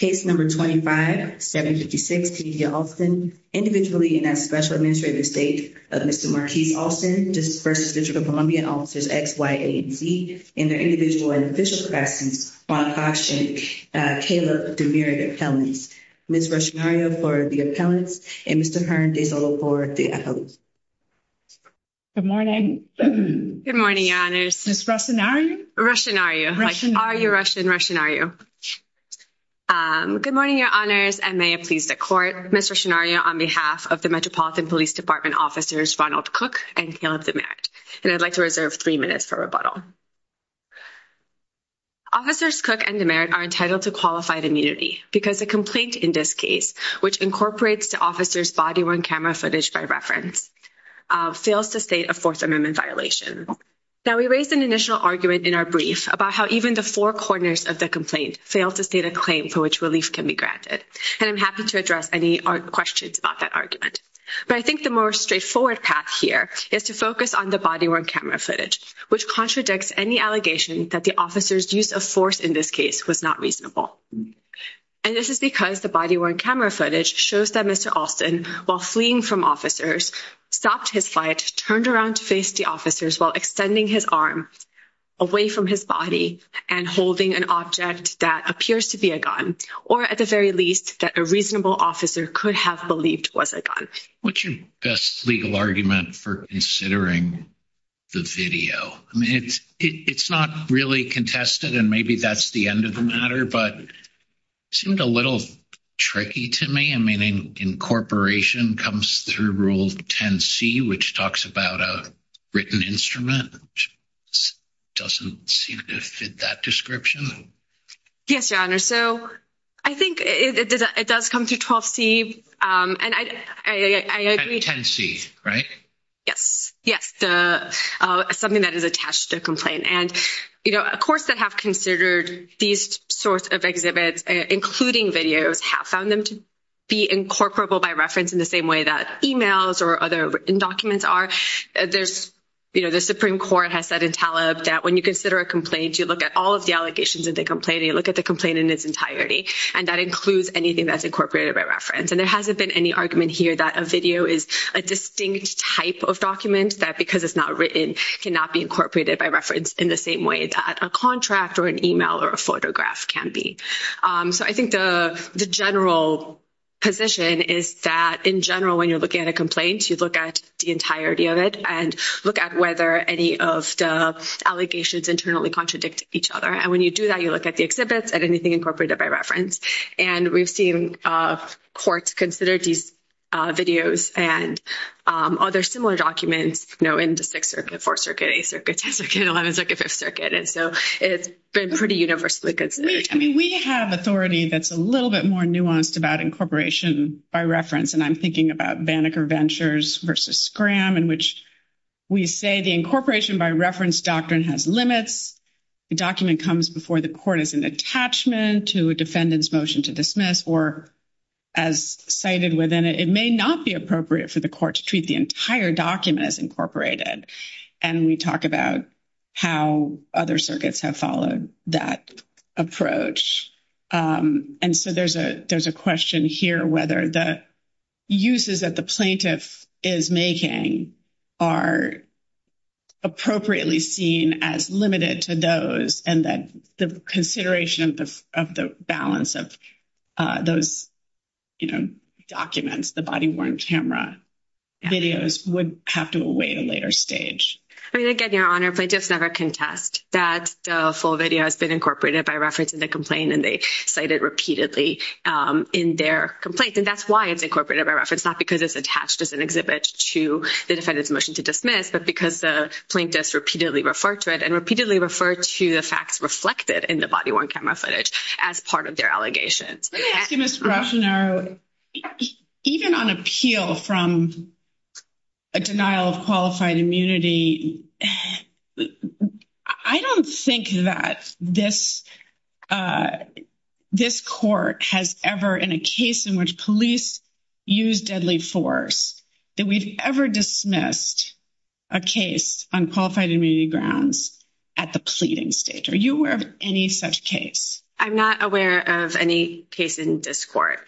Case number 25-756, Kenithia Alston. Individually in that special administrative estate of Mr. Marquis Alston, District of Columbia Officers X, Y, A, and Z, and their individual and official classes, want to caution Caleb DeMurray, the appellant. Ms. Ruscinario for the appellants, and Mr. Hearn DeZolo for the appellants. Good morning. Good morning, Your Honors. Ms. Ruscinario? Ruscinario. Are you Russian? Ruscinario. Good morning, Your Honors, and may it please the Court, Ms. Ruscinario, on behalf of the Metropolitan Police Department Officers Ronald Cook and Caleb DeMurray, and I'd like to reserve three minutes for rebuttal. Officers Cook and DeMurray are entitled to qualified immunity because a complaint in this case, which incorporates the officer's body-worn camera footage by reference, fails to state a Fourth Amendment violation. Now, we raised an initial argument in our brief about how even the four corners of the complaint fail to state a claim for which relief can be granted, and I'm happy to address any questions about that argument, but I think the more straightforward path here is to focus on the body-worn camera footage, which contradicts any allegation that the officer's use of force in this case was not reasonable, and this is because the body-worn camera footage shows that Mr. Alston, while fleeing from officers, stopped his flight, turned around to face the officers while extending his arm away from his body and holding an object that appears to be a gun, or at the very least, that a reasonable officer could have believed was a gun. What's your best legal argument for considering the video? I mean, it's not really contested, and maybe that's the end of the matter, but it seemed a little tricky to me. I which talks about a written instrument doesn't seem to fit that description. Yes, Your Honor. So, I think it does come through 12C, and I agree. 10C, right? Yes, yes. Something that is attached to the complaint, and, you know, of course, that have considered these sorts of exhibits, including videos, have found them to be incorporable by reference in the same way that emails or other written documents are. There's, you know, the Supreme Court has said in Taleb that when you consider a complaint, you look at all of the allegations of the complaint, and you look at the complaint in its entirety, and that includes anything that's incorporated by reference, and there hasn't been any argument here that a video is a distinct type of document that, because it's not written, cannot be incorporated by reference in the same way that a contract or an email or a photograph can be. So, I think the general position is that, in general, when you're looking at a complaint, you look at the entirety of it and look at whether any of the allegations internally contradict each other, and when you do that, you look at the exhibits, at anything incorporated by reference, and we've seen courts consider these videos and other similar documents, you know, in the Sixth Circuit, Fourth Circuit, Eighth Circuit, Tenth Circuit, Eleventh Circuit, Fifth Circuit, and so it's been pretty universally considered. I mean, we have authority that's a little bit more nuanced about incorporation by reference, and I'm thinking about Banneker Ventures versus Scram, in which we say the incorporation by reference doctrine has limits, the document comes before the court as an attachment to a defendant's motion to dismiss, or as cited within it, it may not be appropriate for the court to treat the entire document as incorporated, and we talk about how other circuits have followed that approach, and so there's a question here whether the uses that the plaintiff is making are appropriately seen as limited to those, and that the consideration of the balance of those, you know, documents, the body-worn camera videos, would have to await a later stage. I mean, again, Your Honor, plaintiffs never contest that the full video has been incorporated by reference in the complaint, and they cite it repeatedly in their complaint, and that's why it's incorporated by reference, not because it's attached as an exhibit to the defendant's motion to dismiss, but because the plaintiffs repeatedly refer to it and repeatedly refer to the facts reflected in the body-worn camera footage as part of their allegations. Let me ask you, Ms. Rochonaro, even on appeal from a denial of qualified immunity, I don't think that this court has ever, in a case in which police use deadly force, that we've ever dismissed a case on qualified immunity grounds at the pleading stage. Are you aware of any such case? I'm not aware of any case in this court.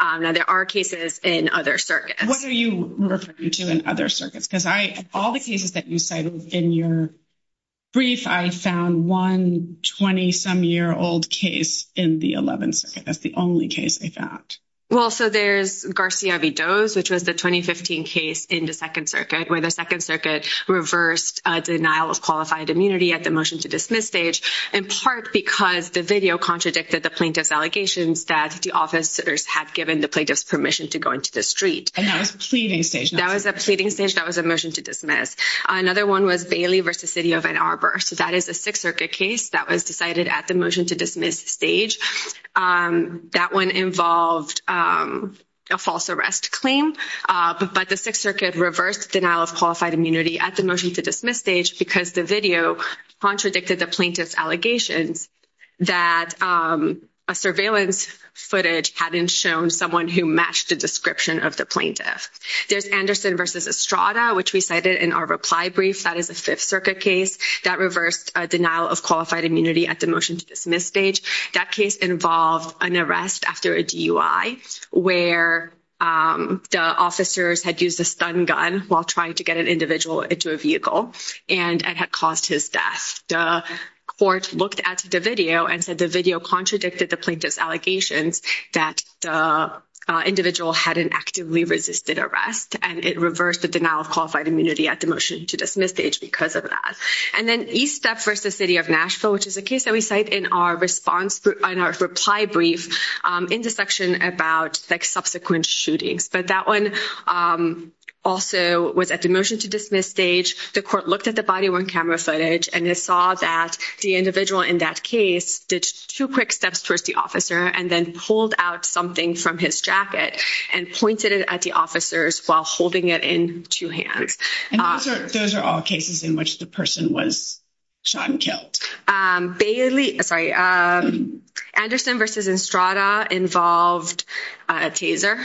Now, there are cases in other circuits. What are you referring to in other circuits? Because all the cases that you cited in your brief, I found one 20-some-year-old case in the 11th Circuit. That's the only case I found. Well, so there's Garcia v. Doz, which was the 2015 case in the Second Circuit, where the Second Circuit reversed a denial of qualified immunity at the motion to dismiss stage, in part because the video contradicted the plaintiff's allegations that the officers had given the plaintiff's permission to go into the street. And that was pleading stage? That was a pleading stage. That was a motion to dismiss. Another one was Bailey v. City of Ann Arbor. So, that is a Sixth Circuit case that was decided at the motion to dismiss stage. That one involved a false arrest claim, but the Sixth Circuit reversed denial of qualified immunity at the motion to dismiss stage because the video contradicted the plaintiff's allegations that a surveillance footage hadn't shown someone who matched the description of the plaintiff. There's Anderson v. Estrada, which we cited in our reply brief. That is a Fifth Circuit case that reversed a denial of qualified immunity at the motion to dismiss stage. That case involved an arrest after a DUI, where the officers had used a stun gun while trying to get an individual into a vehicle, and it had caused his death. The court looked at the video and said the video contradicted the plaintiff's allegations that the individual hadn't actively resisted arrest, and it reversed the denial of qualified immunity at the motion to dismiss stage because of that. And then East Step v. City of Nashville, which is a case that we cite in our response, in our reply brief, in the section about subsequent shootings. But that one also was at the motion to dismiss stage. The court looked at the body-worn camera footage, and it saw that the individual in that case did two quick steps towards the officer and then pulled out something from his jacket and pointed it at the officers while holding it in two hands. And those are all cases in which the person was shot and killed. Bailey—sorry, Anderson v. Estrada involved a taser.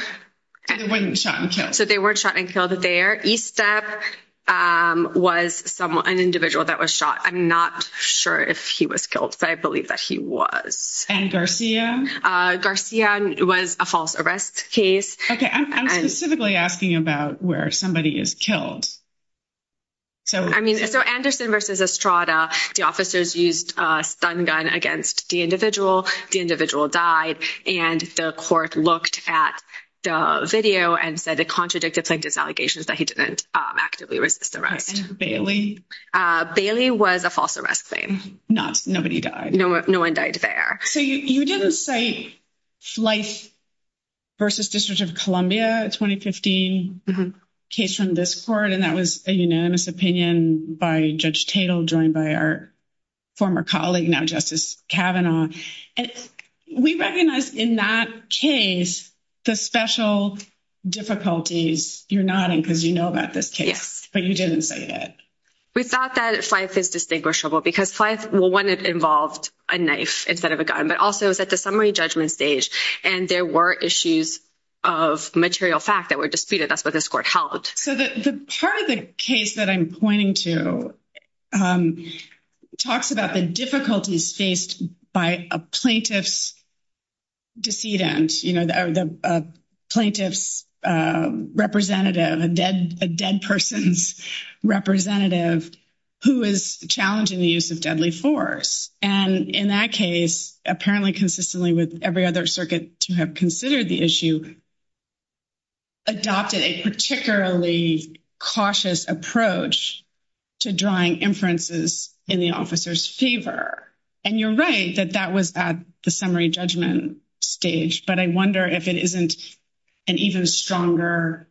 They weren't shot and killed. So they weren't shot and killed there. East Step was an individual that was shot. I'm not sure if he was killed, but I believe that he was. And Garcia? Garcia was a false arrest case. Okay, I'm specifically asking about where somebody is killed. So Anderson v. Estrada, the officers used a stun gun against the individual. The individual died, and the court looked at the video and said it contradicted plaintiff's allegations that he didn't actively resist arrest. Bailey was a false arrest claim. Not—nobody died. No one died there. So you didn't cite Flife v. District of Columbia, a 2015 case from this court, and that was a unanimous opinion by Judge Tatel, joined by our former colleague, now Justice Kavanaugh, and we recognize in that case the special difficulties. You're nodding because you know about this case, but you didn't say that. We thought that Flife is distinguishable because Flife, well, one, it involved a knife instead of a gun, but also it was at the summary judgment stage, and there were issues of material fact that were disputed. That's what this court held. So the part of the case that I'm pointing to talks about the difficulties faced by a plaintiff's decedent, you know, the plaintiff's representative, a dead person's representative who is challenging the use of deadly force, and in that case, apparently consistently with every other circuit to have considered the issue, adopted a particularly cautious approach to drawing inferences in the officer's favor. And you're right that that was at the summary judgment stage, but I wonder if it isn't an even stronger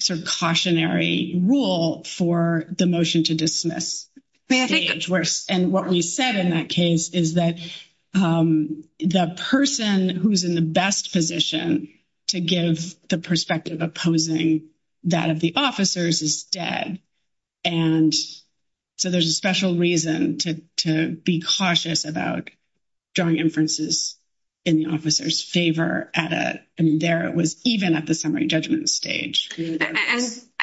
sort of cautionary rule for the motion to dismiss stage, and what we said in that case is that the person who's in the best position to give the perspective opposing that of the officers is dead, and so there's a special reason to be cautious about drawing inferences in the officer's favor, and there it was even at the summary judgment stage.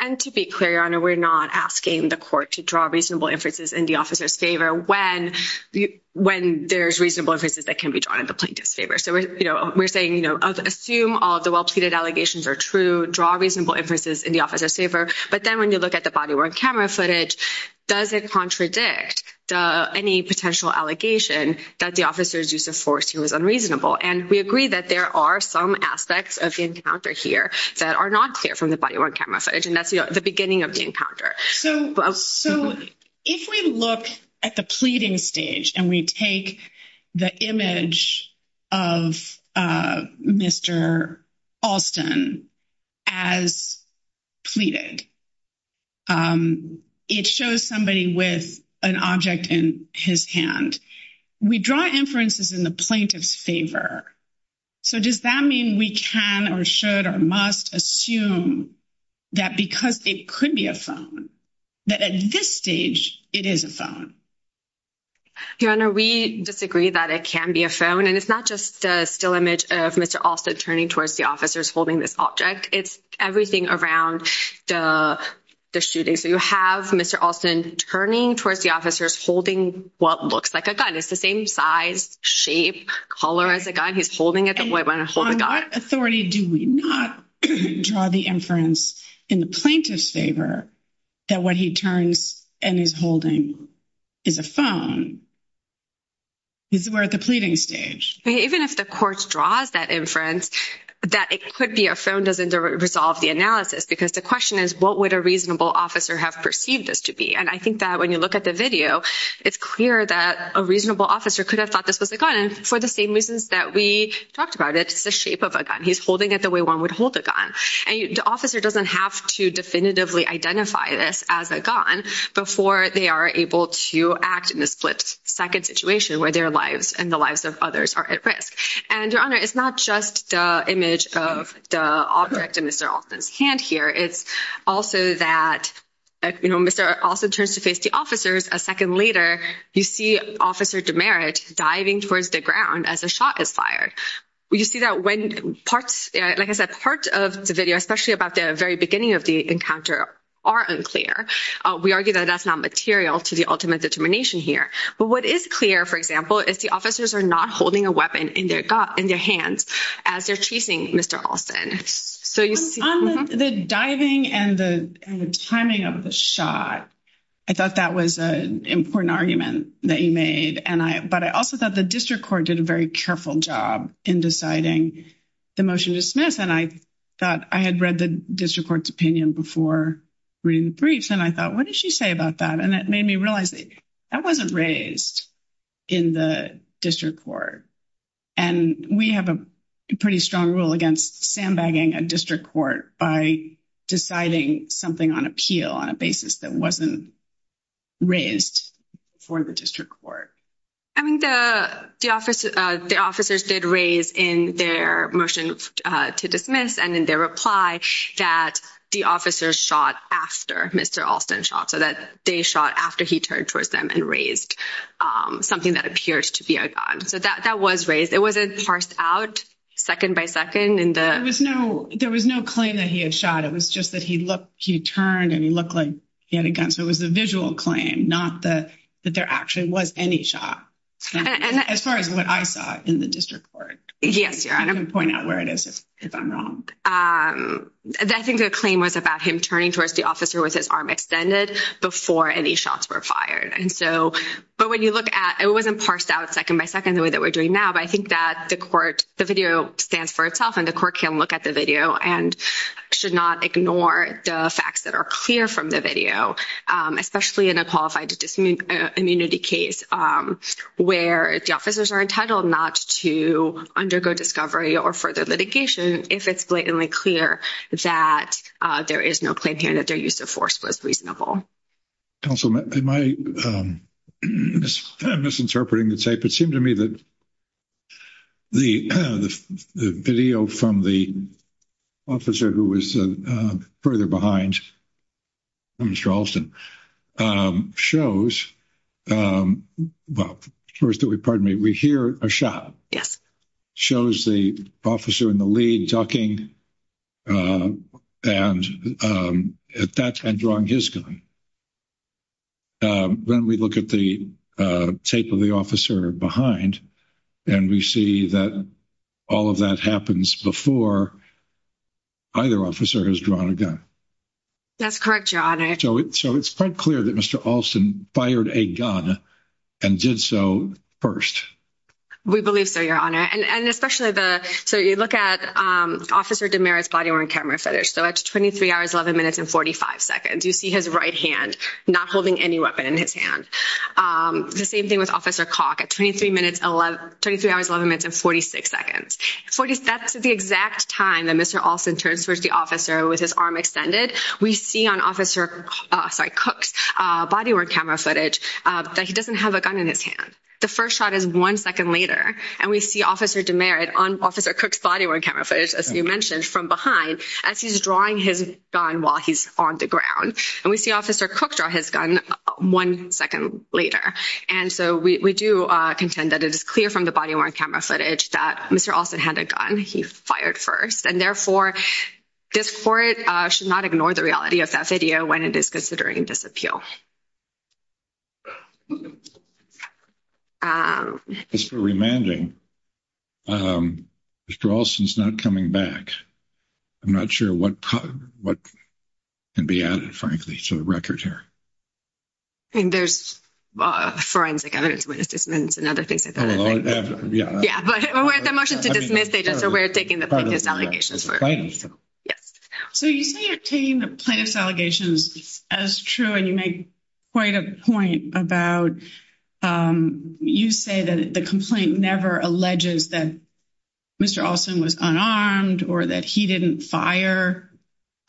And to be clear, Your Honor, we're not asking the court to draw reasonable inferences in the when there's reasonable inferences that can be drawn in the plaintiff's favor. So we're saying, you know, assume all the well-pleaded allegations are true, draw reasonable inferences in the officer's favor, but then when you look at the body-worn camera footage, does it contradict any potential allegation that the officer's use of force here was unreasonable? And we agree that there are some aspects of the encounter here that are not clear from the body-worn camera footage, and that's the beginning of the encounter. So if we look at the pleading stage and we take the image of Mr. Alston as pleaded, it shows somebody with an object in his hand. We draw inferences in the plaintiff's favor, so does that mean we can or should or must assume that because it could be a phone, that at this stage, it is a phone? Your Honor, we disagree that it can be a phone, and it's not just a still image of Mr. Alston turning towards the officers holding this object. It's everything around the shooting. So you have Mr. Alston turning towards the officers holding what looks like a gun. It's the same size, shape, color as a gun. He's holding it the way one holds a gun. What authority do we not draw the inference in the plaintiff's favor that what he turns and is holding is a phone? We're at the pleading stage. Even if the court draws that inference, that it could be a phone doesn't resolve the analysis, because the question is, what would a reasonable officer have perceived this to be? And I think that when you look at the video, it's clear that a reasonable officer could have thought this was a gun. He's holding it the way one would hold a gun. And the officer doesn't have to definitively identify this as a gun before they are able to act in a split-second situation where their lives and the lives of others are at risk. And Your Honor, it's not just the image of the object in Mr. Alston's hand here. It's also that Mr. Alston turns to face the officers. A second later, you see Officer DeMeritt diving towards the ground as a shot is fired. You see that when parts, like I said, part of the video, especially about the very beginning of the encounter, are unclear. We argue that that's not material to the ultimate determination here. But what is clear, for example, is the officers are not holding a weapon in their hands as they're chasing Mr. Alston. So you see... On the diving and the timing of the shot, I thought that was an important argument that you made. But I also thought the district court did a very careful job in deciding the motion to dismiss. And I thought I had read the district court's opinion before reading the briefs. And I thought, what did she say about that? And that made me realize that wasn't raised in the district court. And we have a pretty strong rule against sandbagging a district court by deciding something on appeal on a basis that wasn't raised for the district court. I mean, the officers did raise in their motion to dismiss and in their reply that the officers shot after Mr. Alston shot. So that they shot after he turned towards them and raised something that appears to be a gun. So that was raised. It wasn't parsed out second by second in the... There was no claim that he had shot. It was just that he turned and he looked like he had a gun. So it was the visual claim, not that there actually was any shot. As far as what I saw in the district court. Yes, Your Honor. I can point out where it is if I'm wrong. I think the claim was about him turning towards the officer with his arm extended before any shots were fired. And so... But when you look at... It wasn't parsed out second by second the way that we're doing now. But I think that the court... The video stands for itself and the court can look at the video and should not ignore the facts that are clear from the video. Especially in a qualified immunity case where the officers are entitled not to undergo discovery or further litigation if it's blatantly clear that there is no claim here that their use of force was reasonable. Counsel, am I... I'm misinterpreting the statement. It seemed to me that the video from the officer who was further behind, Mr. Alston, shows... Well, first that we... Pardon me. We hear a shot. Yes. Shows the officer in the lead talking and at that time drawing his gun. When we look at the tape of the officer behind and we see that all of that happens before either officer has drawn a gun. That's correct, Your Honor. So it's quite clear that Mr. Alston fired a gun and did so first. We believe so, Your Honor. And especially the... So you look at Officer DeMera's body-worn camera footage. So at 23 hours, 11 minutes, and 45 seconds, you see his right hand not holding any weapon in his hand. The same thing with Officer Cooke at 23 hours, 11 minutes, and 46 seconds. That's the exact time that Mr. Alston turns towards the officer with his arm extended. We see on Officer... Sorry, Cooke's body-worn camera footage that he doesn't have a gun in his hand. The first shot is one second later and we see Officer DeMera on Officer Cooke's body-worn camera footage, as you mentioned, from behind as he's drawing his gun while he's on the ground. And we see Officer Cooke draw his gun one second later. And so we do contend that it is clear from the body-worn camera footage that Mr. Alston had a gun. He fired first. And therefore, this court should not ignore the of that video when it is considering disappeal. Just for remanding, Mr. Alston's not coming back. I'm not sure what can be added, frankly, to the record here. I mean, there's forensic evidence, witness dismissal, and other things. Yeah, but we're at the motion to dismiss. We're taking the plaintiff's allegations. Yes. So you say you're taking the plaintiff's allegations as true and you make quite a point about you say that the complaint never alleges that Mr. Alston was unarmed or that he didn't fire.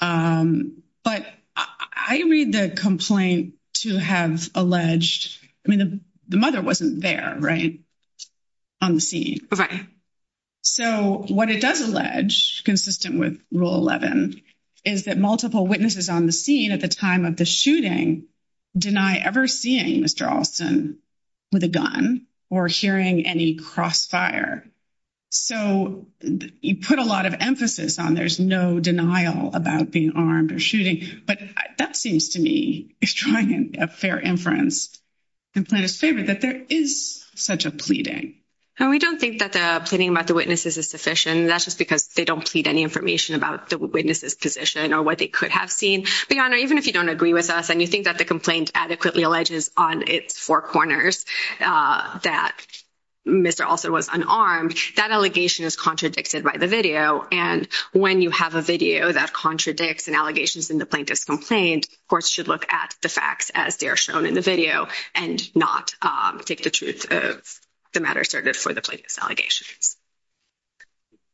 But I read the complaint to have alleged, I mean, the mother wasn't there, right, on the scene. Right. So what it does allege, consistent with Rule 11, is that multiple witnesses on the scene at the time of the shooting deny ever seeing Mr. Alston with a gun or hearing any crossfire. So you put a lot of emphasis on there's no denial about being armed or shooting. But that seems to me, if trying a fair inference, the plaintiff's favorite, that there is such a pleading. And we don't think that the pleading about the witnesses is sufficient. That's just because they don't plead any information about the witnesses' position or what they could have seen. But, Your Honor, even if you don't agree with us and you think that the complaint adequately alleges on its four corners that Mr. Alston was unarmed, that allegation is contradicted by the video. And when you have a video that contradicts an allegation in the plaintiff's complaint, courts should look at the facts as they are shown in the video and not take the truth of matter asserted for the plaintiff's allegations.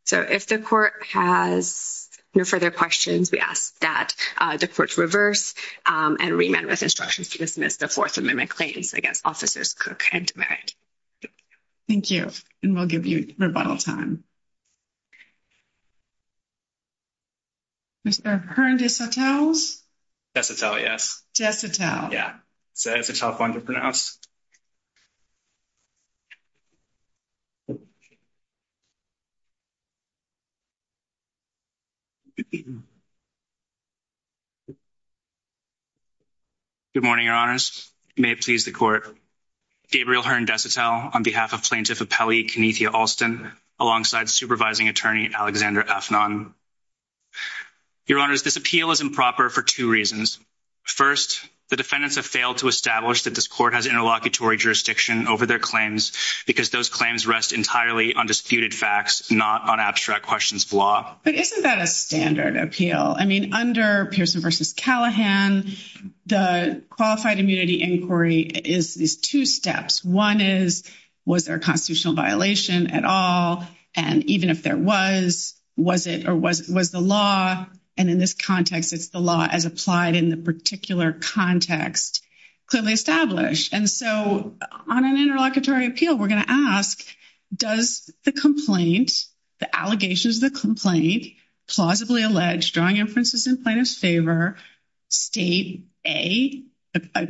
So if the court has no further questions, we ask that the court reverse and remand with instructions to dismiss the Fourth Amendment claims against Officers Cook and Demeritt. Thank you. And we'll give you rebuttal time. Mr. Hern-Desautels? Desautels, yes. Desautels. Yeah. It's a tough one to pronounce. Good morning, Your Honors. May it please the Court. Gabriel Hern-Desautels on behalf of Plaintiff Appellee Kenethia Alston alongside Supervising Attorney Alexander Afnan. Your Honors, this appeal is improper for two reasons. First, the defendants have failed to establish that this those claims rest entirely on disputed facts, not on abstract questions of law. But isn't that a standard appeal? I mean, under Pearson v. Callahan, the qualified immunity inquiry is these two steps. One is, was there a constitutional violation at all? And even if there was, was it or was it was the law? And in this context, it's the law as applied in the particular context clearly established. And so on an interlocutory appeal, we're going to ask, does the complaint, the allegations of the complaint, plausibly allege, drawing inferences in plaintiff's favor, state A, a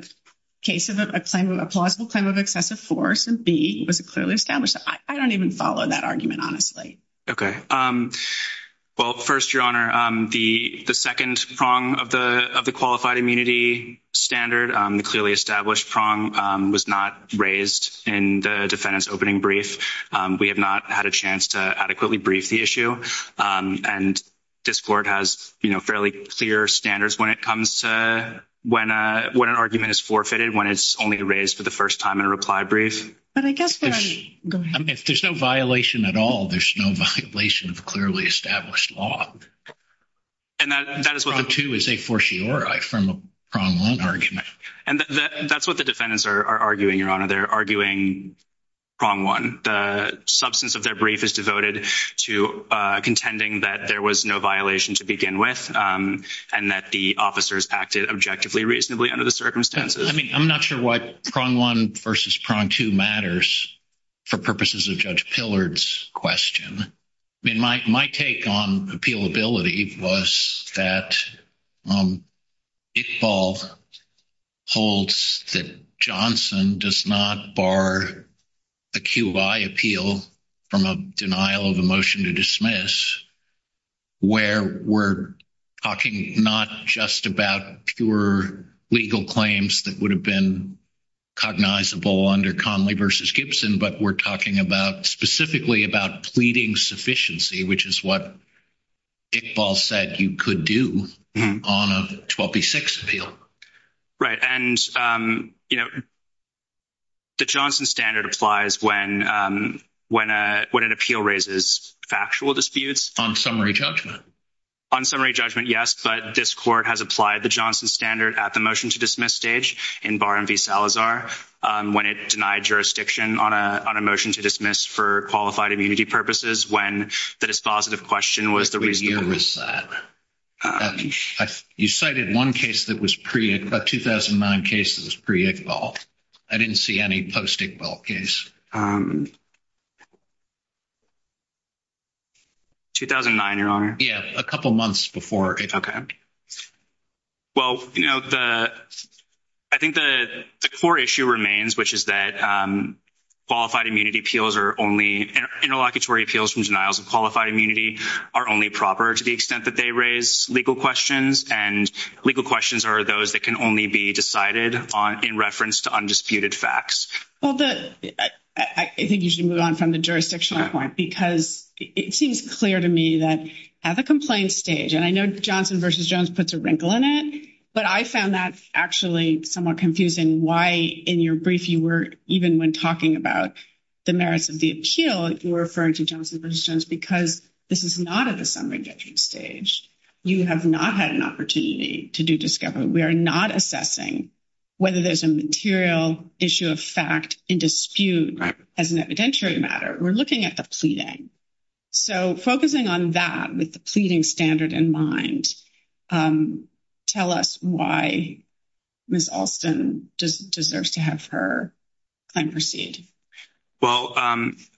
case of a plausible claim of excessive force, and B, was it clearly established? I don't even follow that argument, honestly. Okay. Well, first, Your Honor, the second prong of the qualified immunity standard, the clearly established prong was not raised in the defendant's opening brief. We have not had a chance to adequately brief the issue. And this Court has, you know, fairly clear standards when it comes to when an argument is forfeited, when it's only raised for the first time in a reply brief. But I guess, I mean, if there's no violation at all, there's no violation of clearly established law. And that is what- Prong two is a fortiori from a prong one argument. And that's what the defendants are arguing, Your Honor. They're arguing prong one. The substance of their brief is devoted to contending that there was no violation to begin with, and that the officers acted objectively reasonably under the circumstances. I mean, I'm not sure what prong one versus prong two matters for purposes of Judge Pillard's question. I mean, my take on appealability was that Iqbal holds that Johnson does not bar a QI appeal from a denial of a motion to dismiss, where we're talking not just about pure legal claims that would have been cognizable under Conley v. Gibson, but we're talking specifically about pleading sufficiency, which is what Iqbal said you could do on a 12B6 appeal. Right. And, you know, the Johnson standard applies when an appeal raises factual disputes. On summary judgment. On summary judgment, yes. But this Court has applied the Johnson standard at the motion to dismiss stage in Bar and v. Salazar, when it denied jurisdiction on a motion to dismiss for qualified immunity purposes, when the dispositive question was the reason. You cited one case that was pre-Iqbal, a 2009 case that was pre-Iqbal. I didn't see any post-Iqbal case. 2009, Your Honor. Yeah, a couple months before. Okay. Well, you know, I think the core issue remains, which is that qualified immunity appeals are only—interlocutory appeals from denials of qualified immunity are only proper to the extent that they raise legal questions, and legal questions are those that can only be decided in reference to undisputed facts. Well, I think you should move on from the jurisdictional point, because it seems clear to me that at the complaint stage—and I know Johnson v. Jones puts a wrinkle in it, but I found that actually somewhat confusing why in your brief you were—even when talking about the merits of the appeal, you were referring to Johnson v. Jones because this is not at the summary judgment stage. You have not had an opportunity to do discovery. We are not assessing whether there's a material issue of fact in dispute as an evidentiary matter. We're looking at the pleading. So focusing on that with the pleading standard in mind, tell us why Ms. Alston deserves to have her claim proceed. Well,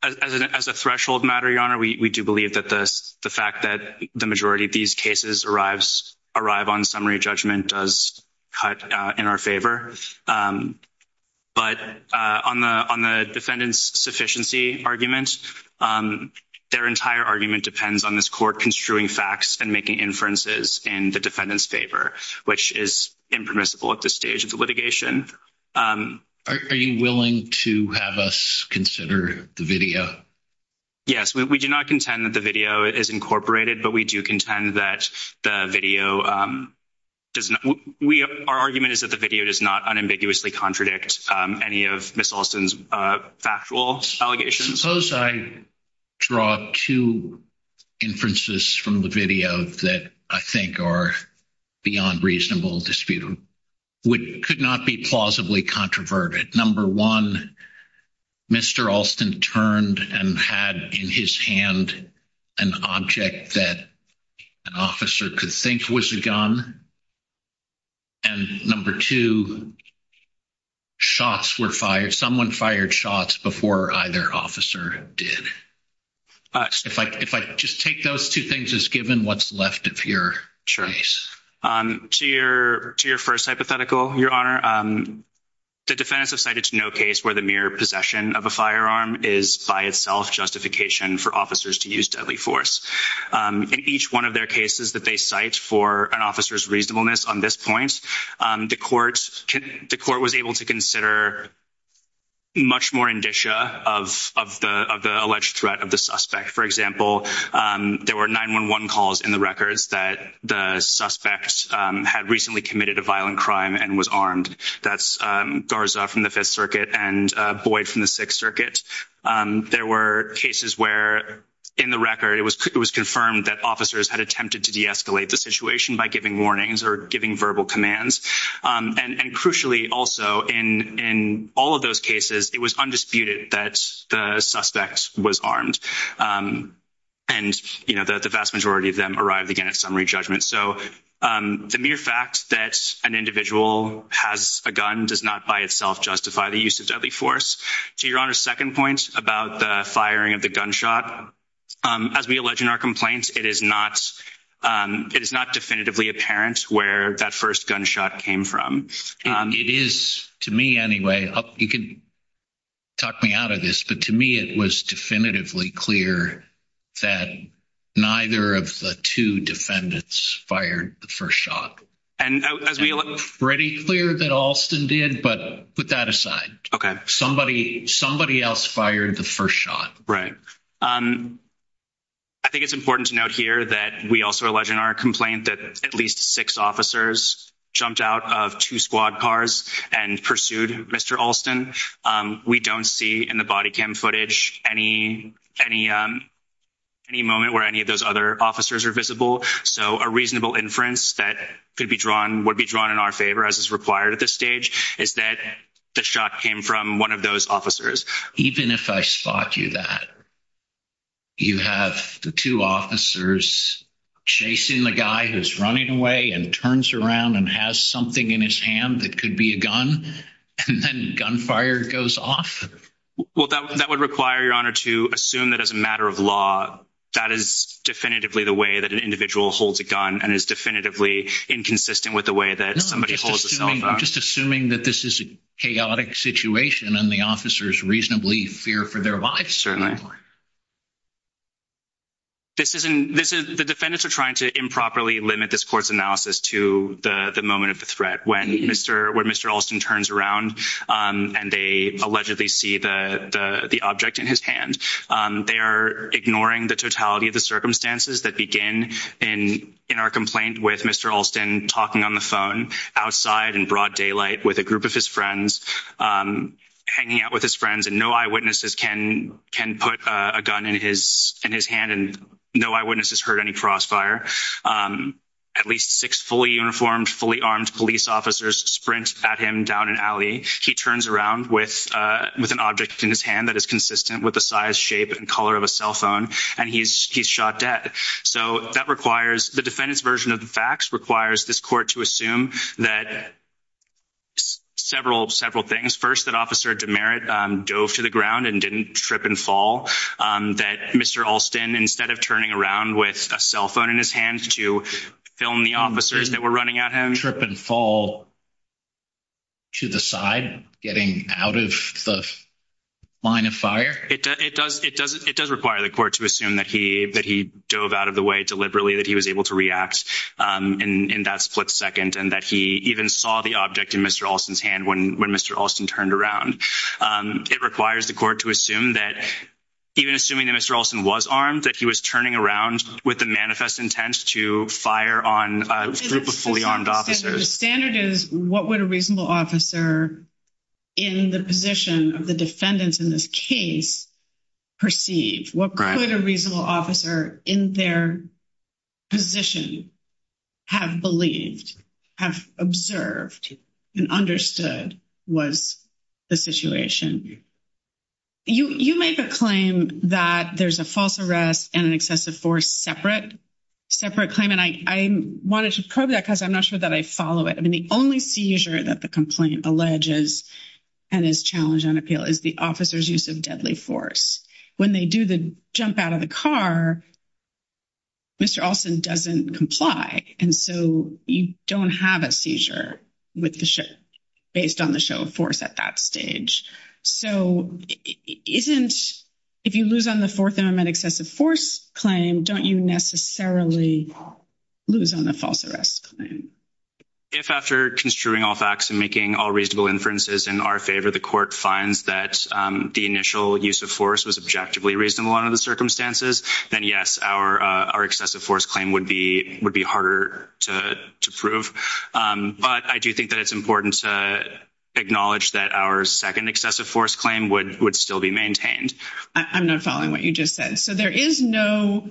as a threshold matter, Your Honor, we do believe that the fact that the majority of these cases arrive on summary judgment does cut in our favor. But on the defendant's sufficiency argument, their entire argument depends on this court construing facts and making inferences in the defendant's favor, which is impermissible at this stage of the litigation. Are you willing to have us consider the video? Yes. We do not contend that the video is incorporated, but we do contend that the video does not—our argument is that the video does not unambiguously contradict any of Ms. Alston's factual allegations. Suppose I draw two inferences from the video that I think are beyond reasonable dispute, which could not be plausibly controverted. Number one, Mr. Alston turned and had in his hand an object that an officer could think was a gun. And number two, shots were fired—someone fired shots before either officer did. If I just take those two things as given, what's left of your case? To your first hypothetical, Your Honor, the defendants have cited to no case where the mere possession of a firearm is by itself justification for officers to use deadly force. In each one of their cases that they cite for an officer's reasonableness on this point, the court was able to consider much more indicia of the alleged threat of the suspect. For example, there were 911 calls in the records that the suspect had recently committed a violent crime and was armed. That's Garza from the Fifth Circuit and Boyd from the Sixth Circuit. There were cases where, in the to de-escalate the situation by giving warnings or giving verbal commands. And crucially also, in all of those cases, it was undisputed that the suspect was armed. And, you know, the vast majority of them arrived again at summary judgment. So the mere fact that an individual has a gun does not by itself justify the use of deadly force. To Your Honor's second point about the firing of the it is not definitively apparent where that first gunshot came from. It is to me anyway, you can talk me out of this, but to me it was definitively clear that neither of the two defendants fired the first shot. And as we look pretty clear that Alston did, but put that aside. Okay. Somebody else fired the first shot. Right. Um, I think it's important to note here that we also allege in our complaint that at least six officers jumped out of two squad cars and pursued Mr. Alston. We don't see in the body cam footage any, any, um, any moment where any of those other officers are visible. So a reasonable inference that could be drawn would be drawn in our favor as is required at this stage is that the shot came from one of those officers. Even if I spot you that you have the two officers chasing the guy who's running away and turns around and has something in his hand that could be a gun and then gunfire goes off. Well, that would require Your Honor to assume that as a matter of law, that is definitively the way that an individual holds a gun and is definitively inconsistent with the way that somebody holds a cell phone. I'm just assuming that this is a chaotic situation and the officers reasonably fear for their lives. Certainly. This isn't, this is the defendants are trying to improperly limit this court's analysis to the moment of the threat. When Mr, when Mr. Alston turns around, um, and they allegedly see the, the, the object in his hand, um, they are ignoring the totality of the circumstances that begin in, in our complaint with Mr. Alston talking on the phone outside in broad daylight with a group of his friends, um, hanging out with his friends and no eyewitnesses can, can put a gun in his, in his hand and no eyewitnesses heard any crossfire. Um, at least six fully uniformed, fully armed police officers sprint at him down an alley. He turns around with, uh, with an object in his hand that is consistent with the size, shape and color of a cell phone and he's, he's shot dead. So that requires the defendant's version of the facts requires this court to assume that several, several things. First, that officer demerit, um, dove to the ground and didn't trip and fall, um, that Mr. Alston, instead of turning around with a cell phone in his hand to film the officers that were running at him, trip and fall to the side, getting out of the line of fire. It does, it does, it does require the court to assume that he, that he dove out of the way deliberately, that he was able to react, um, in, in that split second and that he even saw the object in Mr. Alston's hand when, when Mr. Alston turned around. Um, it requires the court to assume that even assuming that Mr. Alston was armed, that he was turning around with the manifest intent to fire on a group of fully armed officers. The standard is what would a reasonable officer in the position of the defendants in this case perceive? What could a reasonable officer in their position have believed, have observed and understood was the situation? You, you make a claim that there's a false arrest and an excessive force separate, separate claim. And I, I wanted to probe that cause I'm not sure that I follow it. I mean, the only seizure that the complaint alleges and is challenged on appeal is the officer's use of deadly force. When they do the jump out of the car, Mr. Alston doesn't comply. And so you don't have a seizure with the ship based on the show of force at that stage. So isn't, if you lose on the fourth amendment excessive force claim, don't you necessarily lose on the false arrest claim? If after construing all facts and making all reasonable inferences in our favor, the court finds that the initial use of force was objectively reasonable under the circumstances, then yes, our, our excessive force claim would be, would be harder to prove. But I do think that it's important to acknowledge that our second excessive force claim would, would still be maintained. I'm not following what you just said. So there is no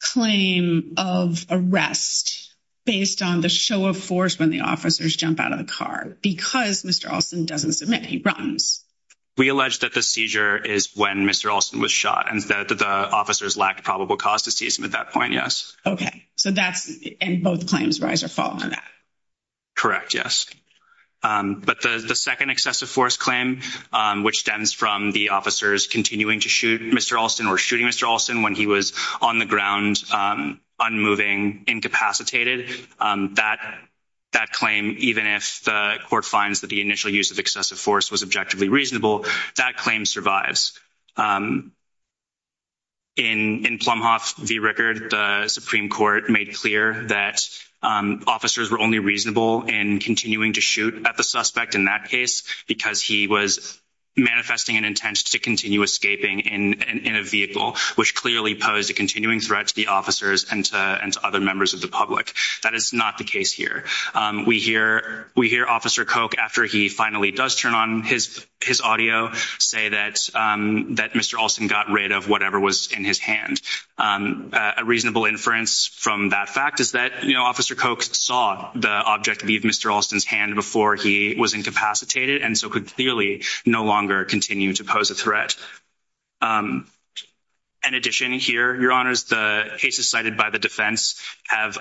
claim of arrest based on show of force when the officers jump out of the car because Mr. Alston doesn't submit. He runs. We allege that the seizure is when Mr. Alston was shot and that the officers lacked probable cause to seize him at that point. Yes. Okay. So that's, and both claims rise or fall on that. Correct. Yes. But the, the second excessive force claim, which stems from the officers continuing to shoot Mr. Alston or shooting Mr. Alston when he was on the ground, unmoving, incapacitated, that, that claim, even if the court finds that the initial use of excessive force was objectively reasonable, that claim survives. In Plumhoff v. Rickard, the Supreme Court made clear that officers were only reasonable in continuing to shoot at the suspect in that case because he was manifesting an intent to continue escaping in a vehicle, which clearly posed a of the public. That is not the case here. We hear, we hear officer Koch after he finally does turn on his, his audio say that that Mr. Alston got rid of whatever was in his hand. A reasonable inference from that fact is that, you know, officer Koch saw the object leave Mr. Alston's hand before he was incapacitated and so could clearly no longer continue to pose a threat. Um, in addition here, your honors, the cases cited by the defense have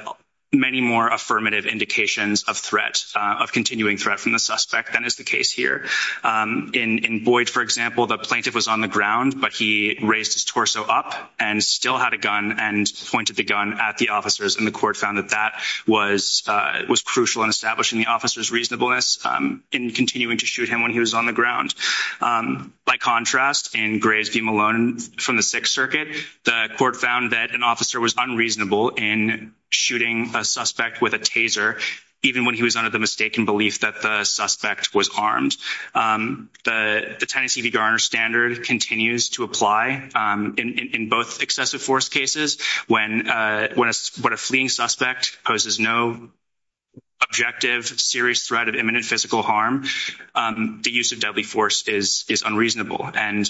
many more affirmative indications of threat, of continuing threat from the suspect than is the case here. Um, in, in Boyd, for example, the plaintiff was on the ground, but he raised his torso up and still had a gun and pointed the gun at the officers and the court found that that was, uh, was crucial in establishing the officer's reasonableness, um, in continuing to shoot him when he was on the ground. Um, by contrast in Graves v. Malone from the sixth circuit, the court found that an officer was unreasonable in shooting a suspect with a taser, even when he was under the mistaken belief that the suspect was armed. Um, the, the Tennessee v. Garner standard continues to apply, um, in, in both excessive force cases when, uh, when a, when a fleeing suspect poses no objective, serious threat of imminent physical harm, um, the use of deadly force is, is unreasonable. And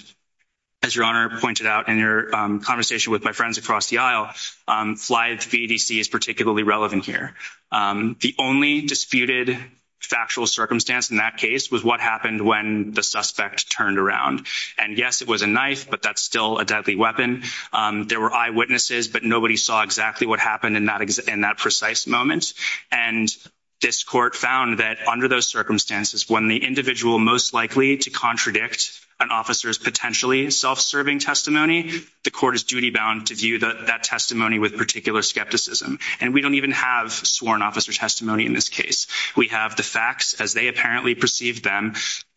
as your honor pointed out in your, um, conversation with my friends across the aisle, um, fly VDC is particularly relevant here. Um, the only disputed factual circumstance in that case was what happened when the suspect turned around and yes, it was a knife, but that's still a deadly weapon. Um, there were eyewitnesses, but nobody saw exactly what happened in that, in that precise moment. And this court found that under those circumstances, when the individual most likely to contradict an officer's potentially self-serving testimony, the court is duty bound to view that that testimony with particular skepticism. And we don't even have sworn officer testimony in this case. We have the facts as they apparently perceive them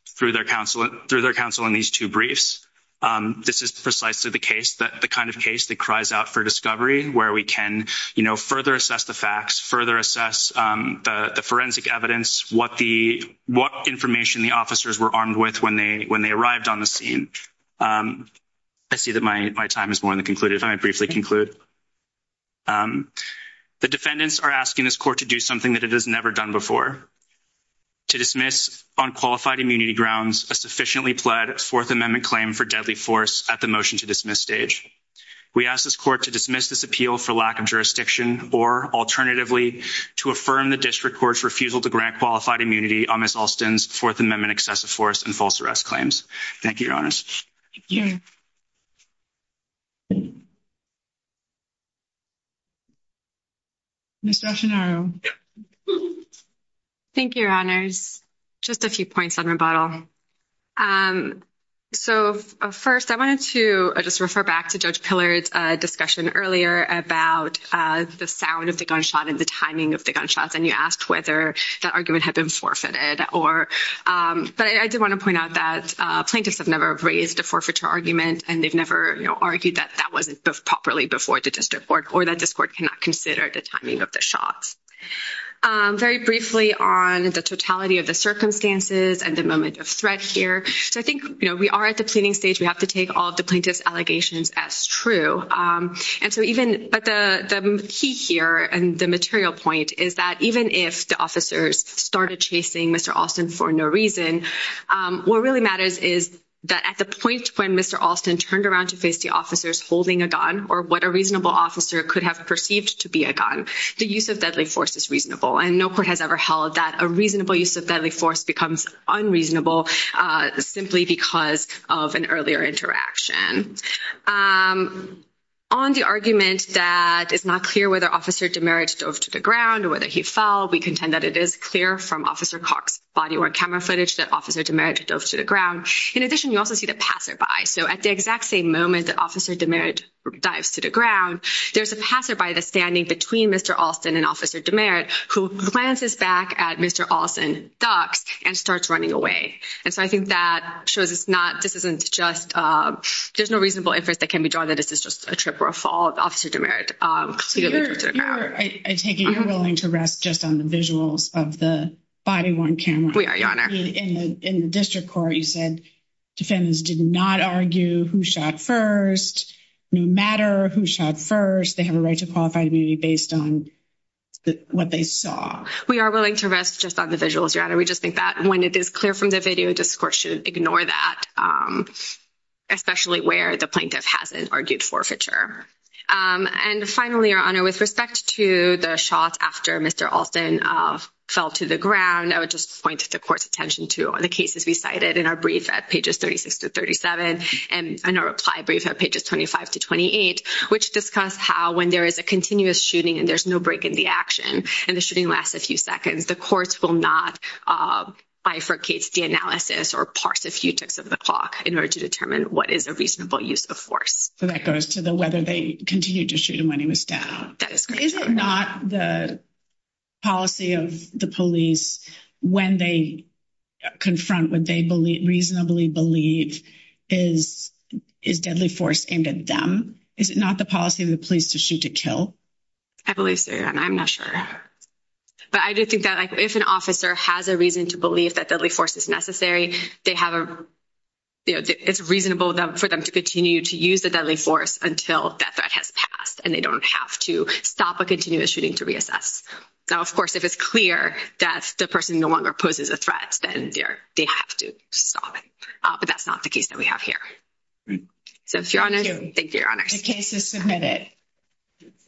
through their counsel, through their counsel in these two briefs. Um, this is precisely the case that the kind of case that cries out for discovery where we can, you know, further assess the facts, further assess, um, the forensic evidence, what the, what information the officers were armed with when they, when they arrived on the scene. Um, I see that my, my time is more than concluded. If I briefly conclude, um, the defendants are asking this court to do something that it has never done before to dismiss on qualified immunity grounds, a sufficiently pled fourth amendment claim for deadly force at the motion to dismiss stage. We ask this court to dismiss this appeal for lack of jurisdiction, or alternatively to affirm the district court's refusal to grant qualified immunity on Ms. Alston's fourth amendment excessive force and false arrest claims. Thank you, your honors. Thank you. Ms. Dastanaro. Thank you, your honors. Just a few points on rebuttal. Um, so first I wanted to just refer back to judge pillars, a discussion earlier about, uh, the sound of the gunshot and the timing of the gunshots. And you asked whether that argument had been forfeited or, um, but I did want to point out that, uh, plaintiffs have never raised a forfeiture argument and they've never argued that that wasn't properly before the district court or that discord cannot consider the timing of the shots. Um, very briefly on the totality of the circumstances and the moment of threat here. So I think, you know, we are at the planning stage. We have to take all the allegations as true. Um, and so even, but the key here and the material point is that even if the officers started chasing Mr. Alston for no reason, um, what really matters is that at the point when Mr. Alston turned around to face the officers holding a gun or what a reasonable officer could have perceived to be a gun, the use of deadly force is reasonable. And no court has ever held that a reasonable use of deadly force becomes unreasonable, uh, simply because of an interaction. Um, on the argument that it's not clear whether officer demerit dove to the ground or whether he fell, we contend that it is clear from officer Cox body or camera footage that officer demerit dove to the ground. In addition, you also see the passerby. So at the exact same moment that officer demerit dives to the ground, there's a passerby, the standing between Mr. Alston and officer demerit who plans his back at Mr. Alston ducks and starts running away. And so I think that shows it's not, this isn't just, um, there's no reasonable inference that can be drawn that this is just a trip or a fall of officer demerit. Um, I take it you're willing to rest just on the visuals of the body worn camera in the district court. You said defendants did not argue who shot first, no matter who shot first, they have a right to qualify based on what they saw. We are willing to rest just on the visuals, your honor. We just think that when it is clear from the video discourse should ignore that. Um, especially where the plaintiff hasn't argued forfeiture. Um, and finally, your honor, with respect to the shots after Mr. Alston fell to the ground, I would just point to the court's attention to the cases we cited in our brief at pages 36 to 37. And I know reply brief at pages 25 to 28, which discuss how when there is a continuous shooting and there's no break in the action and the shooting lasts a few seconds, the courts will not, uh, bifurcate the analysis or parse a few ticks of the clock in order to determine what is a reasonable use of force. So that goes to the, whether they continue to shoot him when he was down. Is it not the policy of the police when they confront, when they believe reasonably believe is, is deadly force aimed at them? Is it not the policy of the police to shoot to kill? I believe so. And I'm not sure, but I do think that like, if an officer has a reason to believe that deadly force is necessary, they have a, you know, it's reasonable for them to continue to use the deadly force until that threat has passed and they don't have to stop a continuous shooting to reassess. Now, of course, if it's clear that the person no longer poses a threat, then they're, they have to stop it. Uh, but that's not the case that we have here. So if you're on it, thank you. Your Honor. The case is submitted.